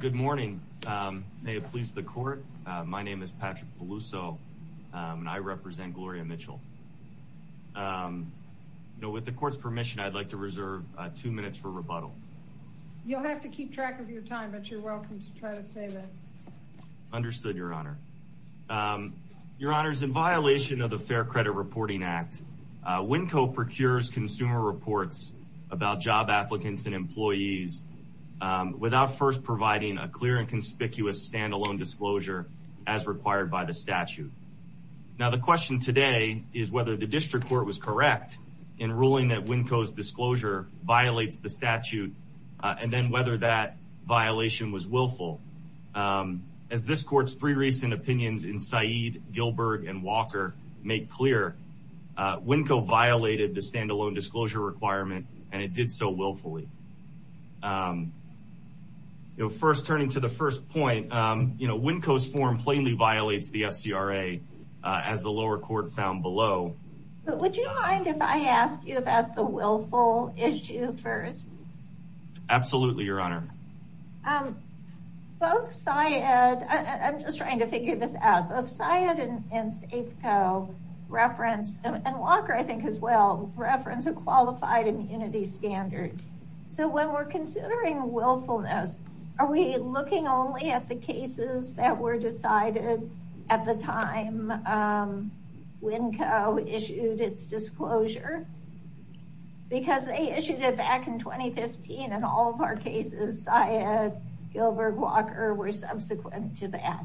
Good morning. May it please the court. My name is Patrick Peluso and I represent Gloria Mitchell. With the court's permission, I'd like to reserve two minutes for rebuttal. You'll have to keep track of your time, but you're welcome to try to save it. Understood, Your Honor. Your Honor, in violation of the Fair Credit Reporting Act, Winco procures consumer reports about job applicants and employees without first providing a clear and conspicuous standalone disclosure as required by the statute. Now, the question today is whether the district court was correct in ruling that Winco's disclosure violates the statute and then whether that violation was willful. As this court's three recent opinions in Said, Gilbert, and Walker make clear, Winco violated the standalone disclosure requirement and it did so willfully. First, turning to the first point, Winco's form plainly violates the FCRA as the lower court found below. Would you mind if I asked you about the willful issue first? Absolutely, Your Honor. Both Said, I'm just trying to figure this out, both Said and Safeco reference, and Walker I think as well, reference a qualified immunity standard. So when we're considering willfulness, are we looking only at the cases that were We issued it back in 2015 and all of our cases, Said, Gilbert, Walker, were subsequent to that.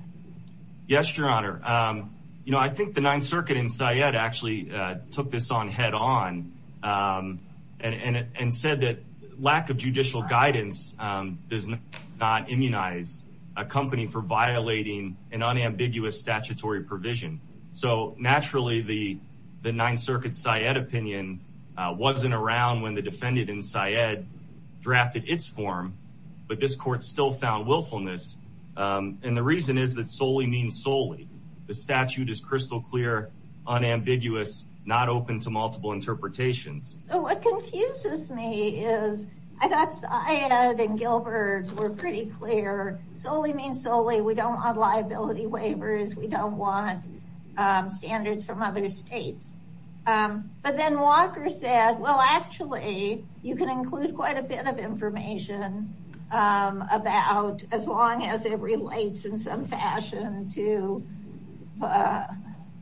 Yes, Your Honor. You know, I think the Ninth Circuit in Said actually took this on head on and said that lack of judicial guidance does not immunize a company for violating an unambiguous statutory provision. So naturally, the Ninth Circuit's Said opinion wasn't around when the defendant in Said drafted its form, but this court still found willfulness. And the reason is that solely means solely. The statute is crystal clear, unambiguous, not open to multiple interpretations. So what confuses me is I thought Said and Gilbert were pretty clear. Solely means solely. We don't want liability waivers. We don't want other states. But then Walker said, well, actually, you can include quite a bit of information about as long as it relates in some fashion to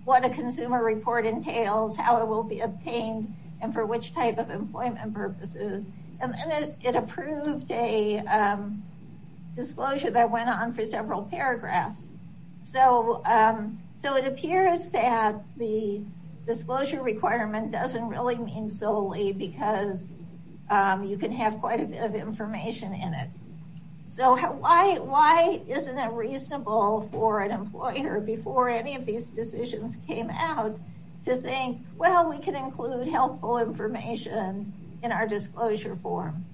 what a consumer report entails, how it will be obtained, and for which type of employment purposes. And it approved a disclosure that it appears that the disclosure requirement doesn't really mean solely because you can have quite a bit of information in it. So why isn't it reasonable for an employer before any of these decisions came out to think, well, we can include helpful information in our disclosure form?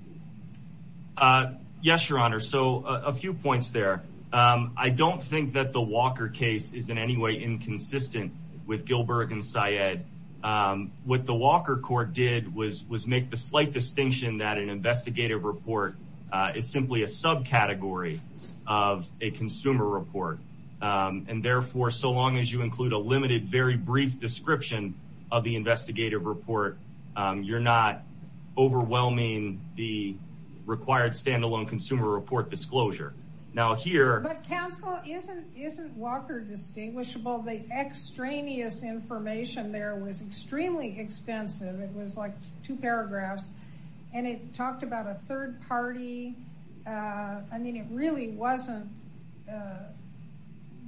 Yes, Your Honor. So a few points there. I don't think that the Walker case is in any way inconsistent with Gilbert and Said. What the Walker court did was make the slight distinction that an investigative report is simply a subcategory of a consumer report. And therefore, so long as you include a limited, very brief description of the investigative report, you're not overwhelming the required standalone consumer report disclosure. Now Walker distinguishable, the extraneous information there was extremely extensive. It was like two paragraphs. And it talked about a third party. I mean, it really wasn't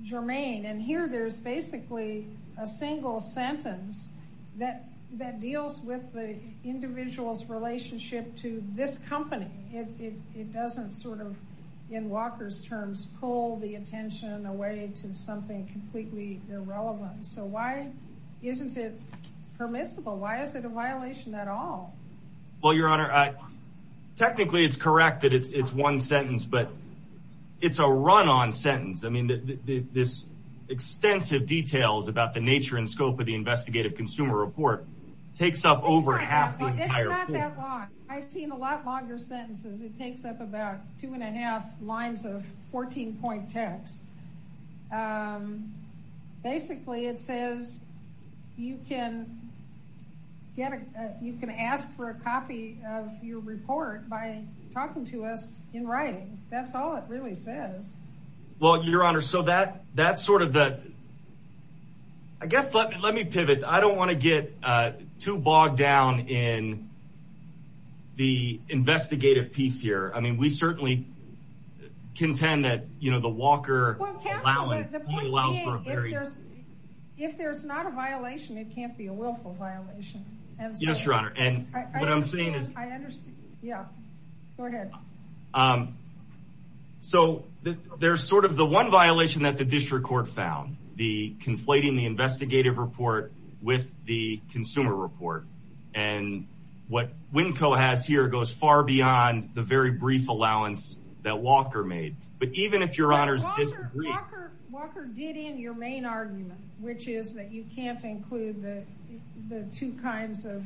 germane. And here there's basically a single sentence that deals with the individual's relationship to this company. It doesn't sort of in Walker's terms, pull the attention away to something completely irrelevant. So why isn't it permissible? Why is it a violation at all? Well, Your Honor, technically it's correct that it's one sentence, but it's a run on sentence. I mean, this extensive details about the nature and scope of the investigative consumer report takes up over half the entire court. I've seen a lot longer sentences. It takes up about two and a half lines of 14 point text. Um, basically it says you can get, you can ask for a copy of your report by talking to us in writing. That's all it really says. Well, Your Honor, so that sort of that, I guess, let me, let me pivot. I don't want to get too bogged down in the investigative piece here. I mean, we certainly contend that, you know, the Walker if there's not a violation, it can't be a willful violation. Yes, Your Honor. And what I'm district court found the conflating the investigative report with the consumer report and what Winco has here goes far beyond the very brief allowance that Walker made. But even if Your Honor's Walker Walker did in your main argument, which is that you can't include the two kinds of to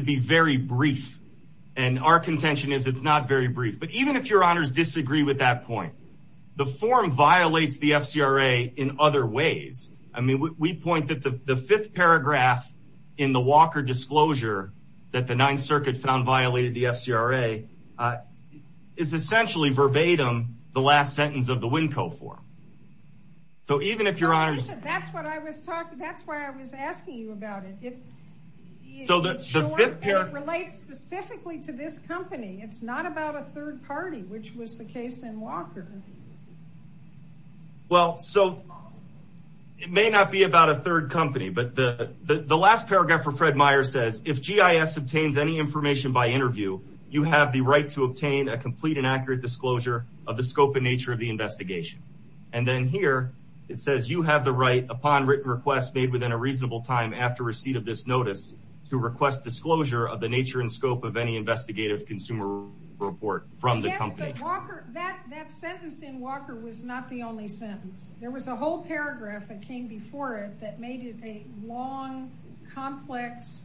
be very brief. And our contention is it's not very brief, but even if Your Honor's disagree with that point, the form violates the FCRA in other ways. I mean, we point that the fifth paragraph in the Walker disclosure that the ninth circuit found violated the FCRA, uh, is essentially verbatim the last sentence of the Winco form. So even if Your Honor's, that's what I was that's why I was asking you about it. It's so that relates specifically to this company. It's not about a third party, which was the case in Walker. Well, so it may not be about a third company, but the last paragraph for Fred Meyer says, if GIS obtains any information by interview, you have the right to obtain a complete and accurate disclosure of the scope and nature of the made within a reasonable time after receipt of this notice to request disclosure of the nature and scope of any investigative consumer report from the company. That sentence in Walker was not the only sentence. There was a whole paragraph that came before it that made it a long, complex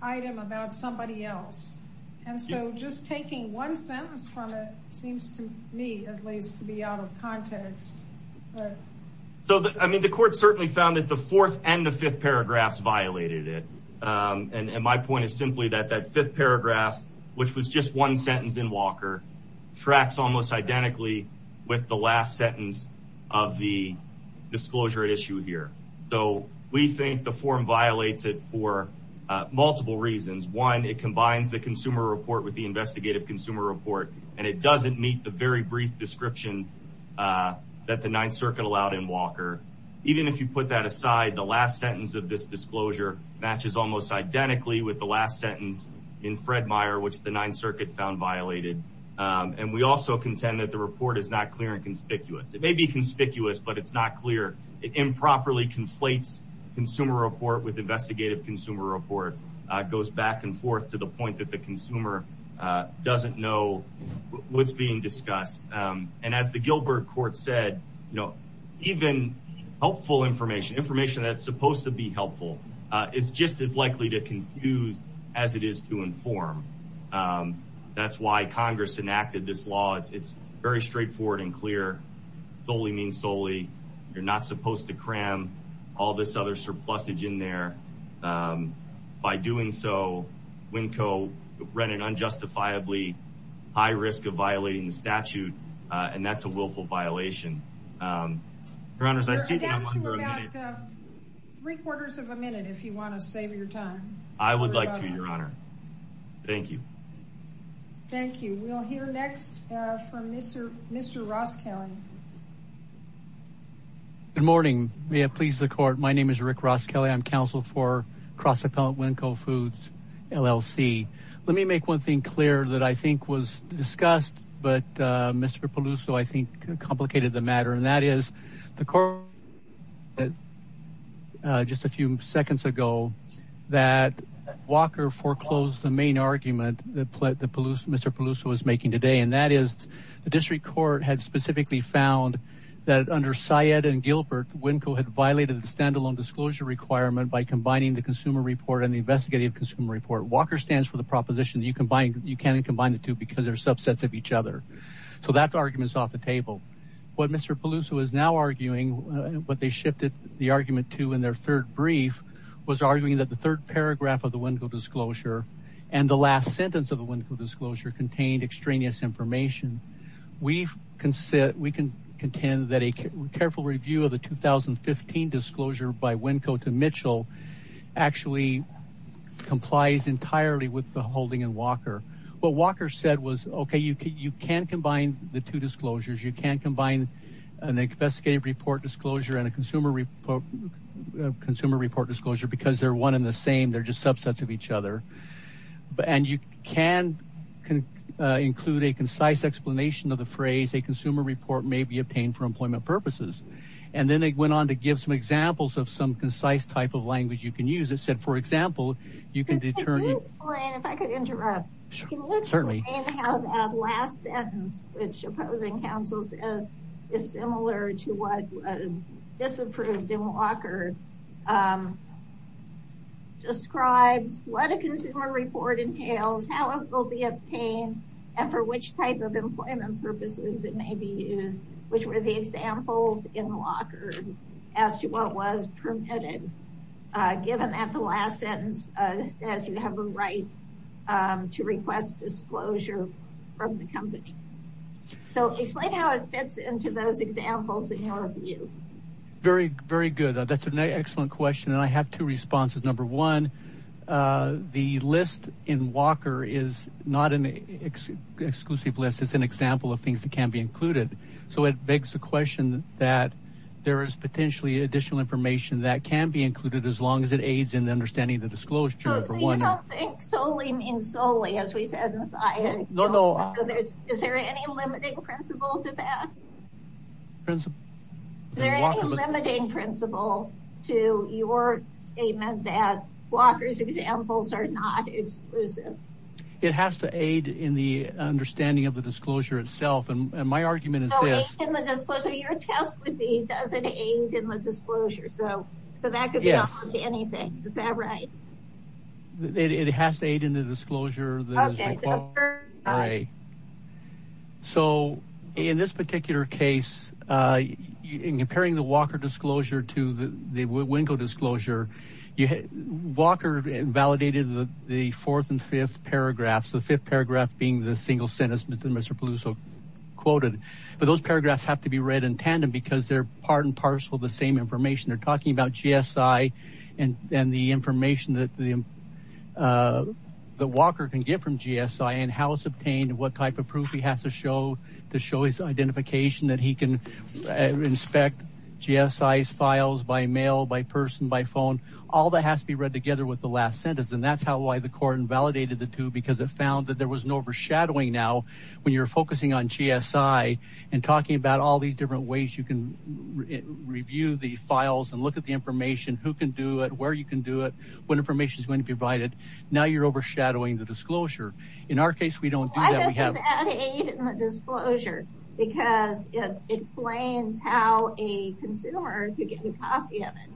item about somebody else. And so just taking one sentence from it seems to me at least to be out of context. So, I mean, the court certainly found that the fourth and the fifth paragraphs violated it. And my point is simply that that fifth paragraph, which was just one sentence in Walker tracks almost identically with the last sentence of the disclosure at issue here. So we think the form violates it for multiple reasons. One, it combines the consumer report with the that the Ninth Circuit allowed in Walker. Even if you put that aside, the last sentence of this disclosure matches almost identically with the last sentence in Fred Meyer, which the Ninth Circuit found violated. And we also contend that the report is not clear and conspicuous. It may be conspicuous, but it's not clear. It improperly conflates consumer report with investigative consumer report, goes back and forth to the point that the consumer doesn't know what's being said. Even helpful information, information that's supposed to be helpful, is just as likely to confuse as it is to inform. That's why Congress enacted this law. It's very straightforward and clear. Solely means solely. You're not supposed to cram all this other surplusage in there. By doing so, Winco ran an unjustifiably high risk of violating the statute, and that's a willful violation. Your Honors, I see that I'm under a minute. Three quarters of a minute, if you want to save your time. I would like to, Your Honor. Thank you. Thank you. We'll hear next from Mr. Ross Kelly. Good morning. May it please the court. My name is Rick Ross Kelly. I'm counsel for Cross Appellant Winco Foods, LLC. Let me make one thing clear that I think was discussed, but Mr. Peluso, I think complicated the matter. That is, the court just a few seconds ago, that Walker foreclosed the main argument that Mr. Peluso was making today. That is, the district court had specifically found that under Syed and Gilbert, Winco had violated the standalone disclosure requirement by combining the consumer report and the investigative consumer report. Walker stands for the proposition that you can't So that argument is off the table. What Mr. Peluso is now arguing, what they shifted the argument to in their third brief, was arguing that the third paragraph of the Winco disclosure and the last sentence of the Winco disclosure contained extraneous information. We can contend that a careful review of the 2015 disclosure by Winco to Mitchell actually complies entirely with the holding in Walker. What Walker said was, okay, you can combine the two disclosures. You can combine an investigative report disclosure and a consumer report disclosure because they're one in the same. They're just subsets of each other. And you can include a concise explanation of the phrase, a consumer report may be obtained for employment purposes. And then they went on to give some examples of some concise type of language you can use. It said, for example, you can determine... Can you explain, if I could interrupt, can you explain how that last sentence, which opposing counsel says is similar to what was disapproved in Walker, describes what a consumer report entails, how it will be obtained, and for which type of employment purposes it may be used, which were the examples in Walker as to what was permitted, given that the last sentence says you have a right to request disclosure from the company. So explain how it fits into those examples in your view. Very, very good. That's an excellent question. And I have two responses. Number one, the list in Walker is not an exclusive list. It's an example of things that can be included. So it begs the question that there is potentially additional information that can be included as long as it aids in the understanding of the disclosure. So you don't think solely means solely, as we said in the science? No, no. Is there any limiting principle to that? Is there any limiting principle to your statement that Walker's examples are not exclusive? It has to aid in the understanding of the disclosure itself. And my argument is this. Aid in the disclosure. Your test would be, does it aid in the disclosure? So that could be almost anything. Is that right? It has to aid in the disclosure. So in this particular case, in comparing the Walker disclosure to the Winko disclosure, you had Walker validated the fourth and fifth paragraphs, the fifth paragraph being the single sentence that Mr. Peluso quoted. But those paragraphs have to be read in tandem because they're part and parcel of the same information. They're talking about GSI and the information that Walker can get from GSI and how it's obtained and what type of proof he has to show his identification, that he can inspect GSI's files by mail, by person, by phone. All that has to be read together with the last sentence. And that's how, why the court invalidated the two, because it found that there was no overshadowing. Now, when you're focusing on GSI and talking about all these different ways, you can review the files and look at the information, who can do it, where you can do it, what information is going to be provided. Now you're overshadowing the disclosure. In our case, we don't do that. We have that aid in the disclosure because it explains how a consumer could get a copy of it.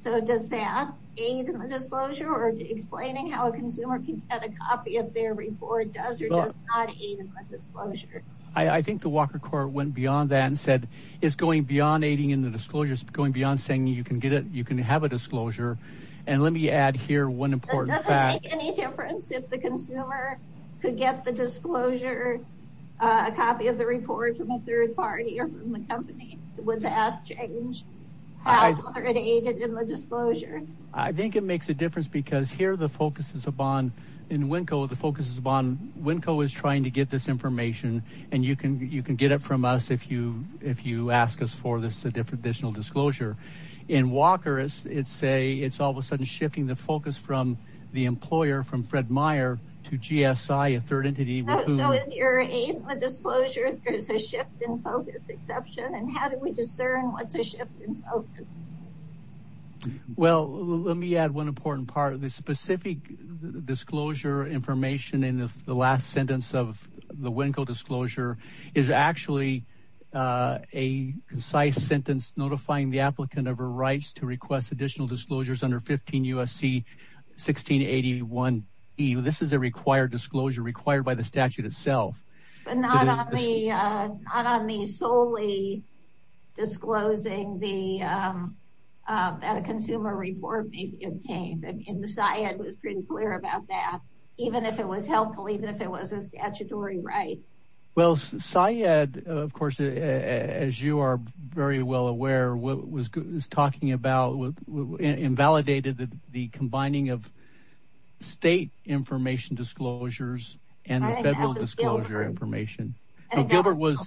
So does that aid in the disclosure or explaining how a consumer can get a copy of their report does or does not aid in the disclosure? I think the Walker court went beyond that and said, it's going beyond aiding in the disclosure. It's going beyond saying you can get it. You can have a disclosure. And let me add here one important fact. If the consumer could get the disclosure, a copy of the report from a third party or from the company, would that change how it aided in the disclosure? I think it makes a difference because here, the focus is upon, in WNCO, the focus is upon, WNCO is trying to get this information and you can, you can get it from us. If you, if you ask us for this, a different additional disclosure in Walker, it's, it's a, it's all sudden shifting the focus from the employer, from Fred Meyer to GSI, a third entity. So is your aid in the disclosure, there's a shift in focus exception and how do we discern what's a shift in focus? Well, let me add one important part of this specific disclosure information in the last sentence of the WNCO disclosure is actually a concise sentence, notifying the applicant of her rights to request additional disclosures under 15 U.S.C. 1681E. This is a required disclosure required by the statute itself. But not on the, not on the solely disclosing the, that a consumer report may be obtained. I mean, the SIAD was pretty clear about that, even if it was helpful, even if it was a statutory right. Well, SIAD, of course, as you are very well aware, what it was talking about invalidated the combining of state information disclosures and the federal disclosure information. Gilbert was,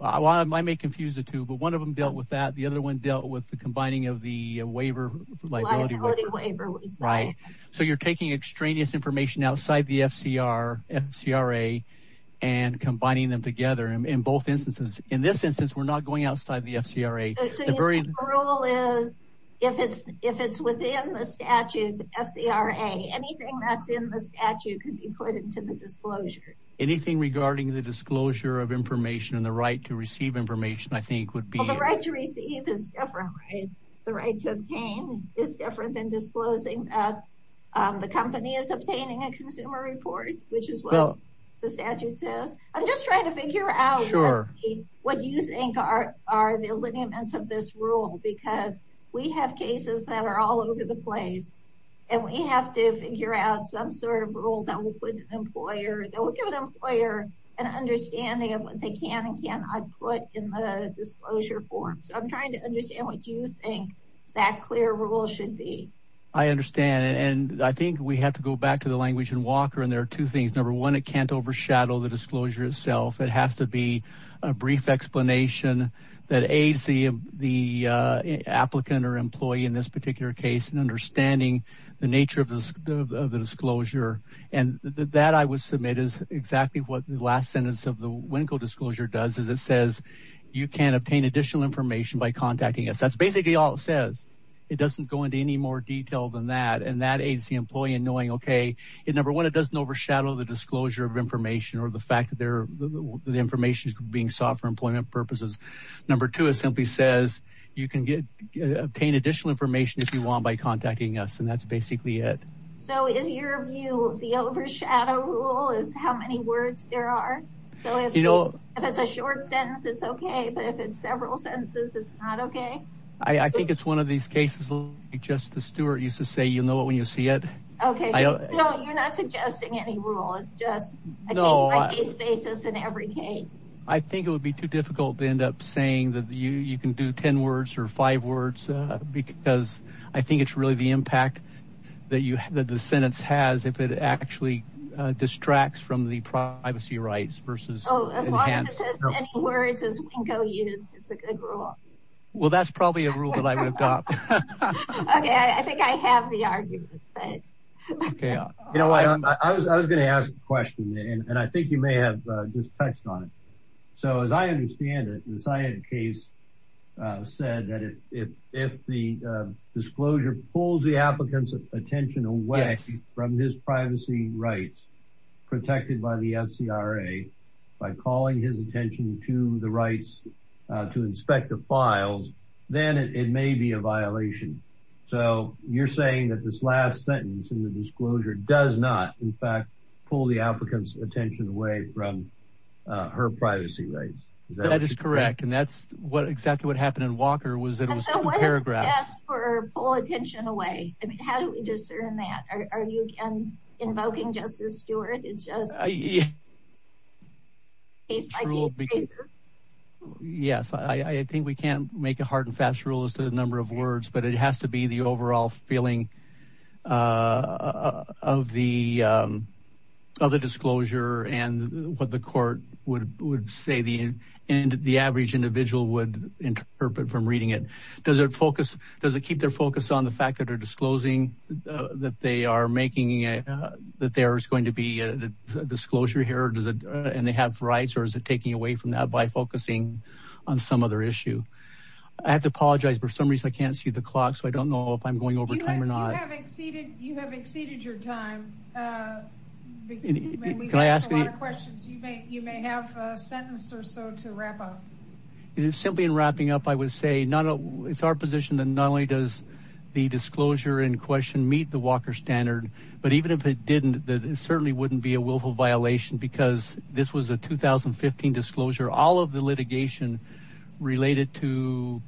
I may confuse the two, but one of them dealt with that. The other one dealt with the combining of the waiver, liability waiver. So you're taking extraneous information outside the FCRA and combining them together in both instances. In this instance, we're not going outside the FCRA. The rule is, if it's within the statute, FCRA, anything that's in the statute could be put into the disclosure. Anything regarding the disclosure of information and the right to receive information, I think would be. The right to receive is different, right? The right to obtain is different than disclosing that the company is obtaining a consumer report, which is what the statute says. I'm just trying to figure out what you think are, are the alignments of this rule, because we have cases that are all over the place and we have to figure out some sort of rule that will put an employer, that will give an employer an understanding of what they can and cannot put in the disclosure form. So I'm trying to figure out what that clear rule should be. I understand. And I think we have to go back to the language in Walker. And there are two things. Number one, it can't overshadow the disclosure itself. It has to be a brief explanation that aids the applicant or employee in this particular case in understanding the nature of the disclosure. And that I would submit is exactly what the last sentence of the Winckel disclosure does, is it says you can obtain additional information by it doesn't go into any more detail than that. And that aids the employee in knowing, okay, it number one, it doesn't overshadow the disclosure of information or the fact that the information is being sought for employment purposes. Number two, it simply says you can get obtain additional information if you want by contacting us. And that's basically it. So is your view of the overshadow rule is how many words there are. So if it's a short sentence, it's okay. But if it's several sentences, it's not okay. I think it's one of these cases. Justice Stewart used to say, you'll know when you see it. Okay. No, you're not suggesting any rule. It's just a case-by-case basis in every case. I think it would be too difficult to end up saying that you can do 10 words or five words, because I think it's really the impact that the sentence has if it actually distracts from the privacy rights versus. Oh, as long as it says any words as Winko used, it's a good rule. Well, that's probably a rule that I would adopt. Okay. I think I have the argument, but. Okay. You know what, I was going to ask a question and I think you may have just touched on it. So as I understand it, the cyanide case said that if the disclosure pulls the applicant's attention away from his privacy rights protected by the FCRA by calling his attention to the rights to inspect the files, then it may be a violation. So you're saying that this last sentence in the disclosure does not, in fact, pull the applicant's attention away from her privacy rights. That is correct. And that's pull attention away. I mean, how do we discern that? Are you invoking Justice Stewart? It's just case-by-case basis. Yes. I think we can't make a hard and fast rule as to the number of words, but it has to be the overall feeling of the disclosure and what the court would say and the average individual would interpret from reading it. Does it keep their focus on the fact that they're disclosing that there's going to be a disclosure here and they have rights, or is it taking away from that by focusing on some other issue? I have to apologize. For some reason, I can't see the clock, so I don't know if I'm going over time or not. You have exceeded your time. We've asked a lot of questions. You may have a sentence or so to wrap up. Simply in wrapping up, I would say it's our position that not only does the disclosure in question meet the Walker Standard, but even if it didn't, it certainly wouldn't be a willful violation because this was a 2015 disclosure. All of the litigation related to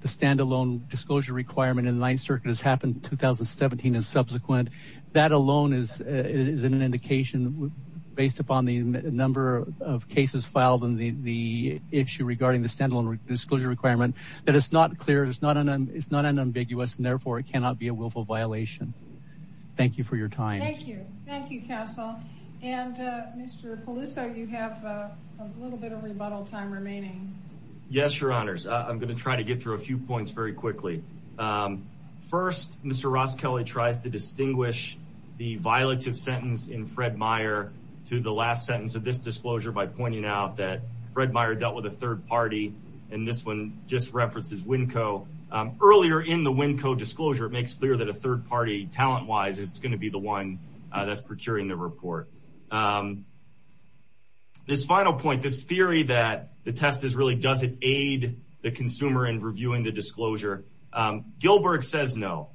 the standalone disclosure requirement in the Ninth Circuit has happened in 2017 and subsequent. That alone is an indication, based upon the number of cases filed and the issue regarding the standalone disclosure requirement, that it's not clear, it's not unambiguous, and therefore, it cannot be a willful violation. Thank you for your time. Thank you. Thank you, counsel. Mr. Peluso, you have a little bit of rebuttal time remaining. Yes, your honors. I'm going to try to get through a few points very quickly. First, Mr. Ross Kelly tries to distinguish the violative sentence in Fred Meyer to the last sentence of this disclosure by pointing out that Fred Meyer dealt with a third party, and this one just references WinCo. Earlier in the WinCo disclosure, it makes clear that a third party, talent-wise, is going to be the one that's procuring the report. This final point, this theory that the test really doesn't aid the consumer in reviewing the disclosure, Gilbert says no.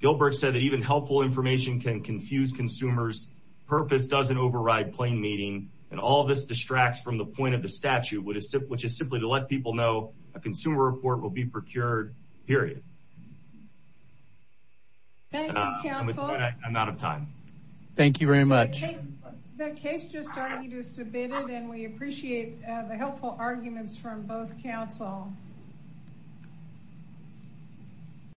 Gilbert said that even helpful information can confuse consumers. Purpose doesn't override plain meaning, and all this distracts from the point of the statute, which is simply to let people know a consumer report will be procured, period. Thank you, counsel. I'm out of time. Thank you very much. The case just already submitted, and we appreciate the helpful arguments from both counsel.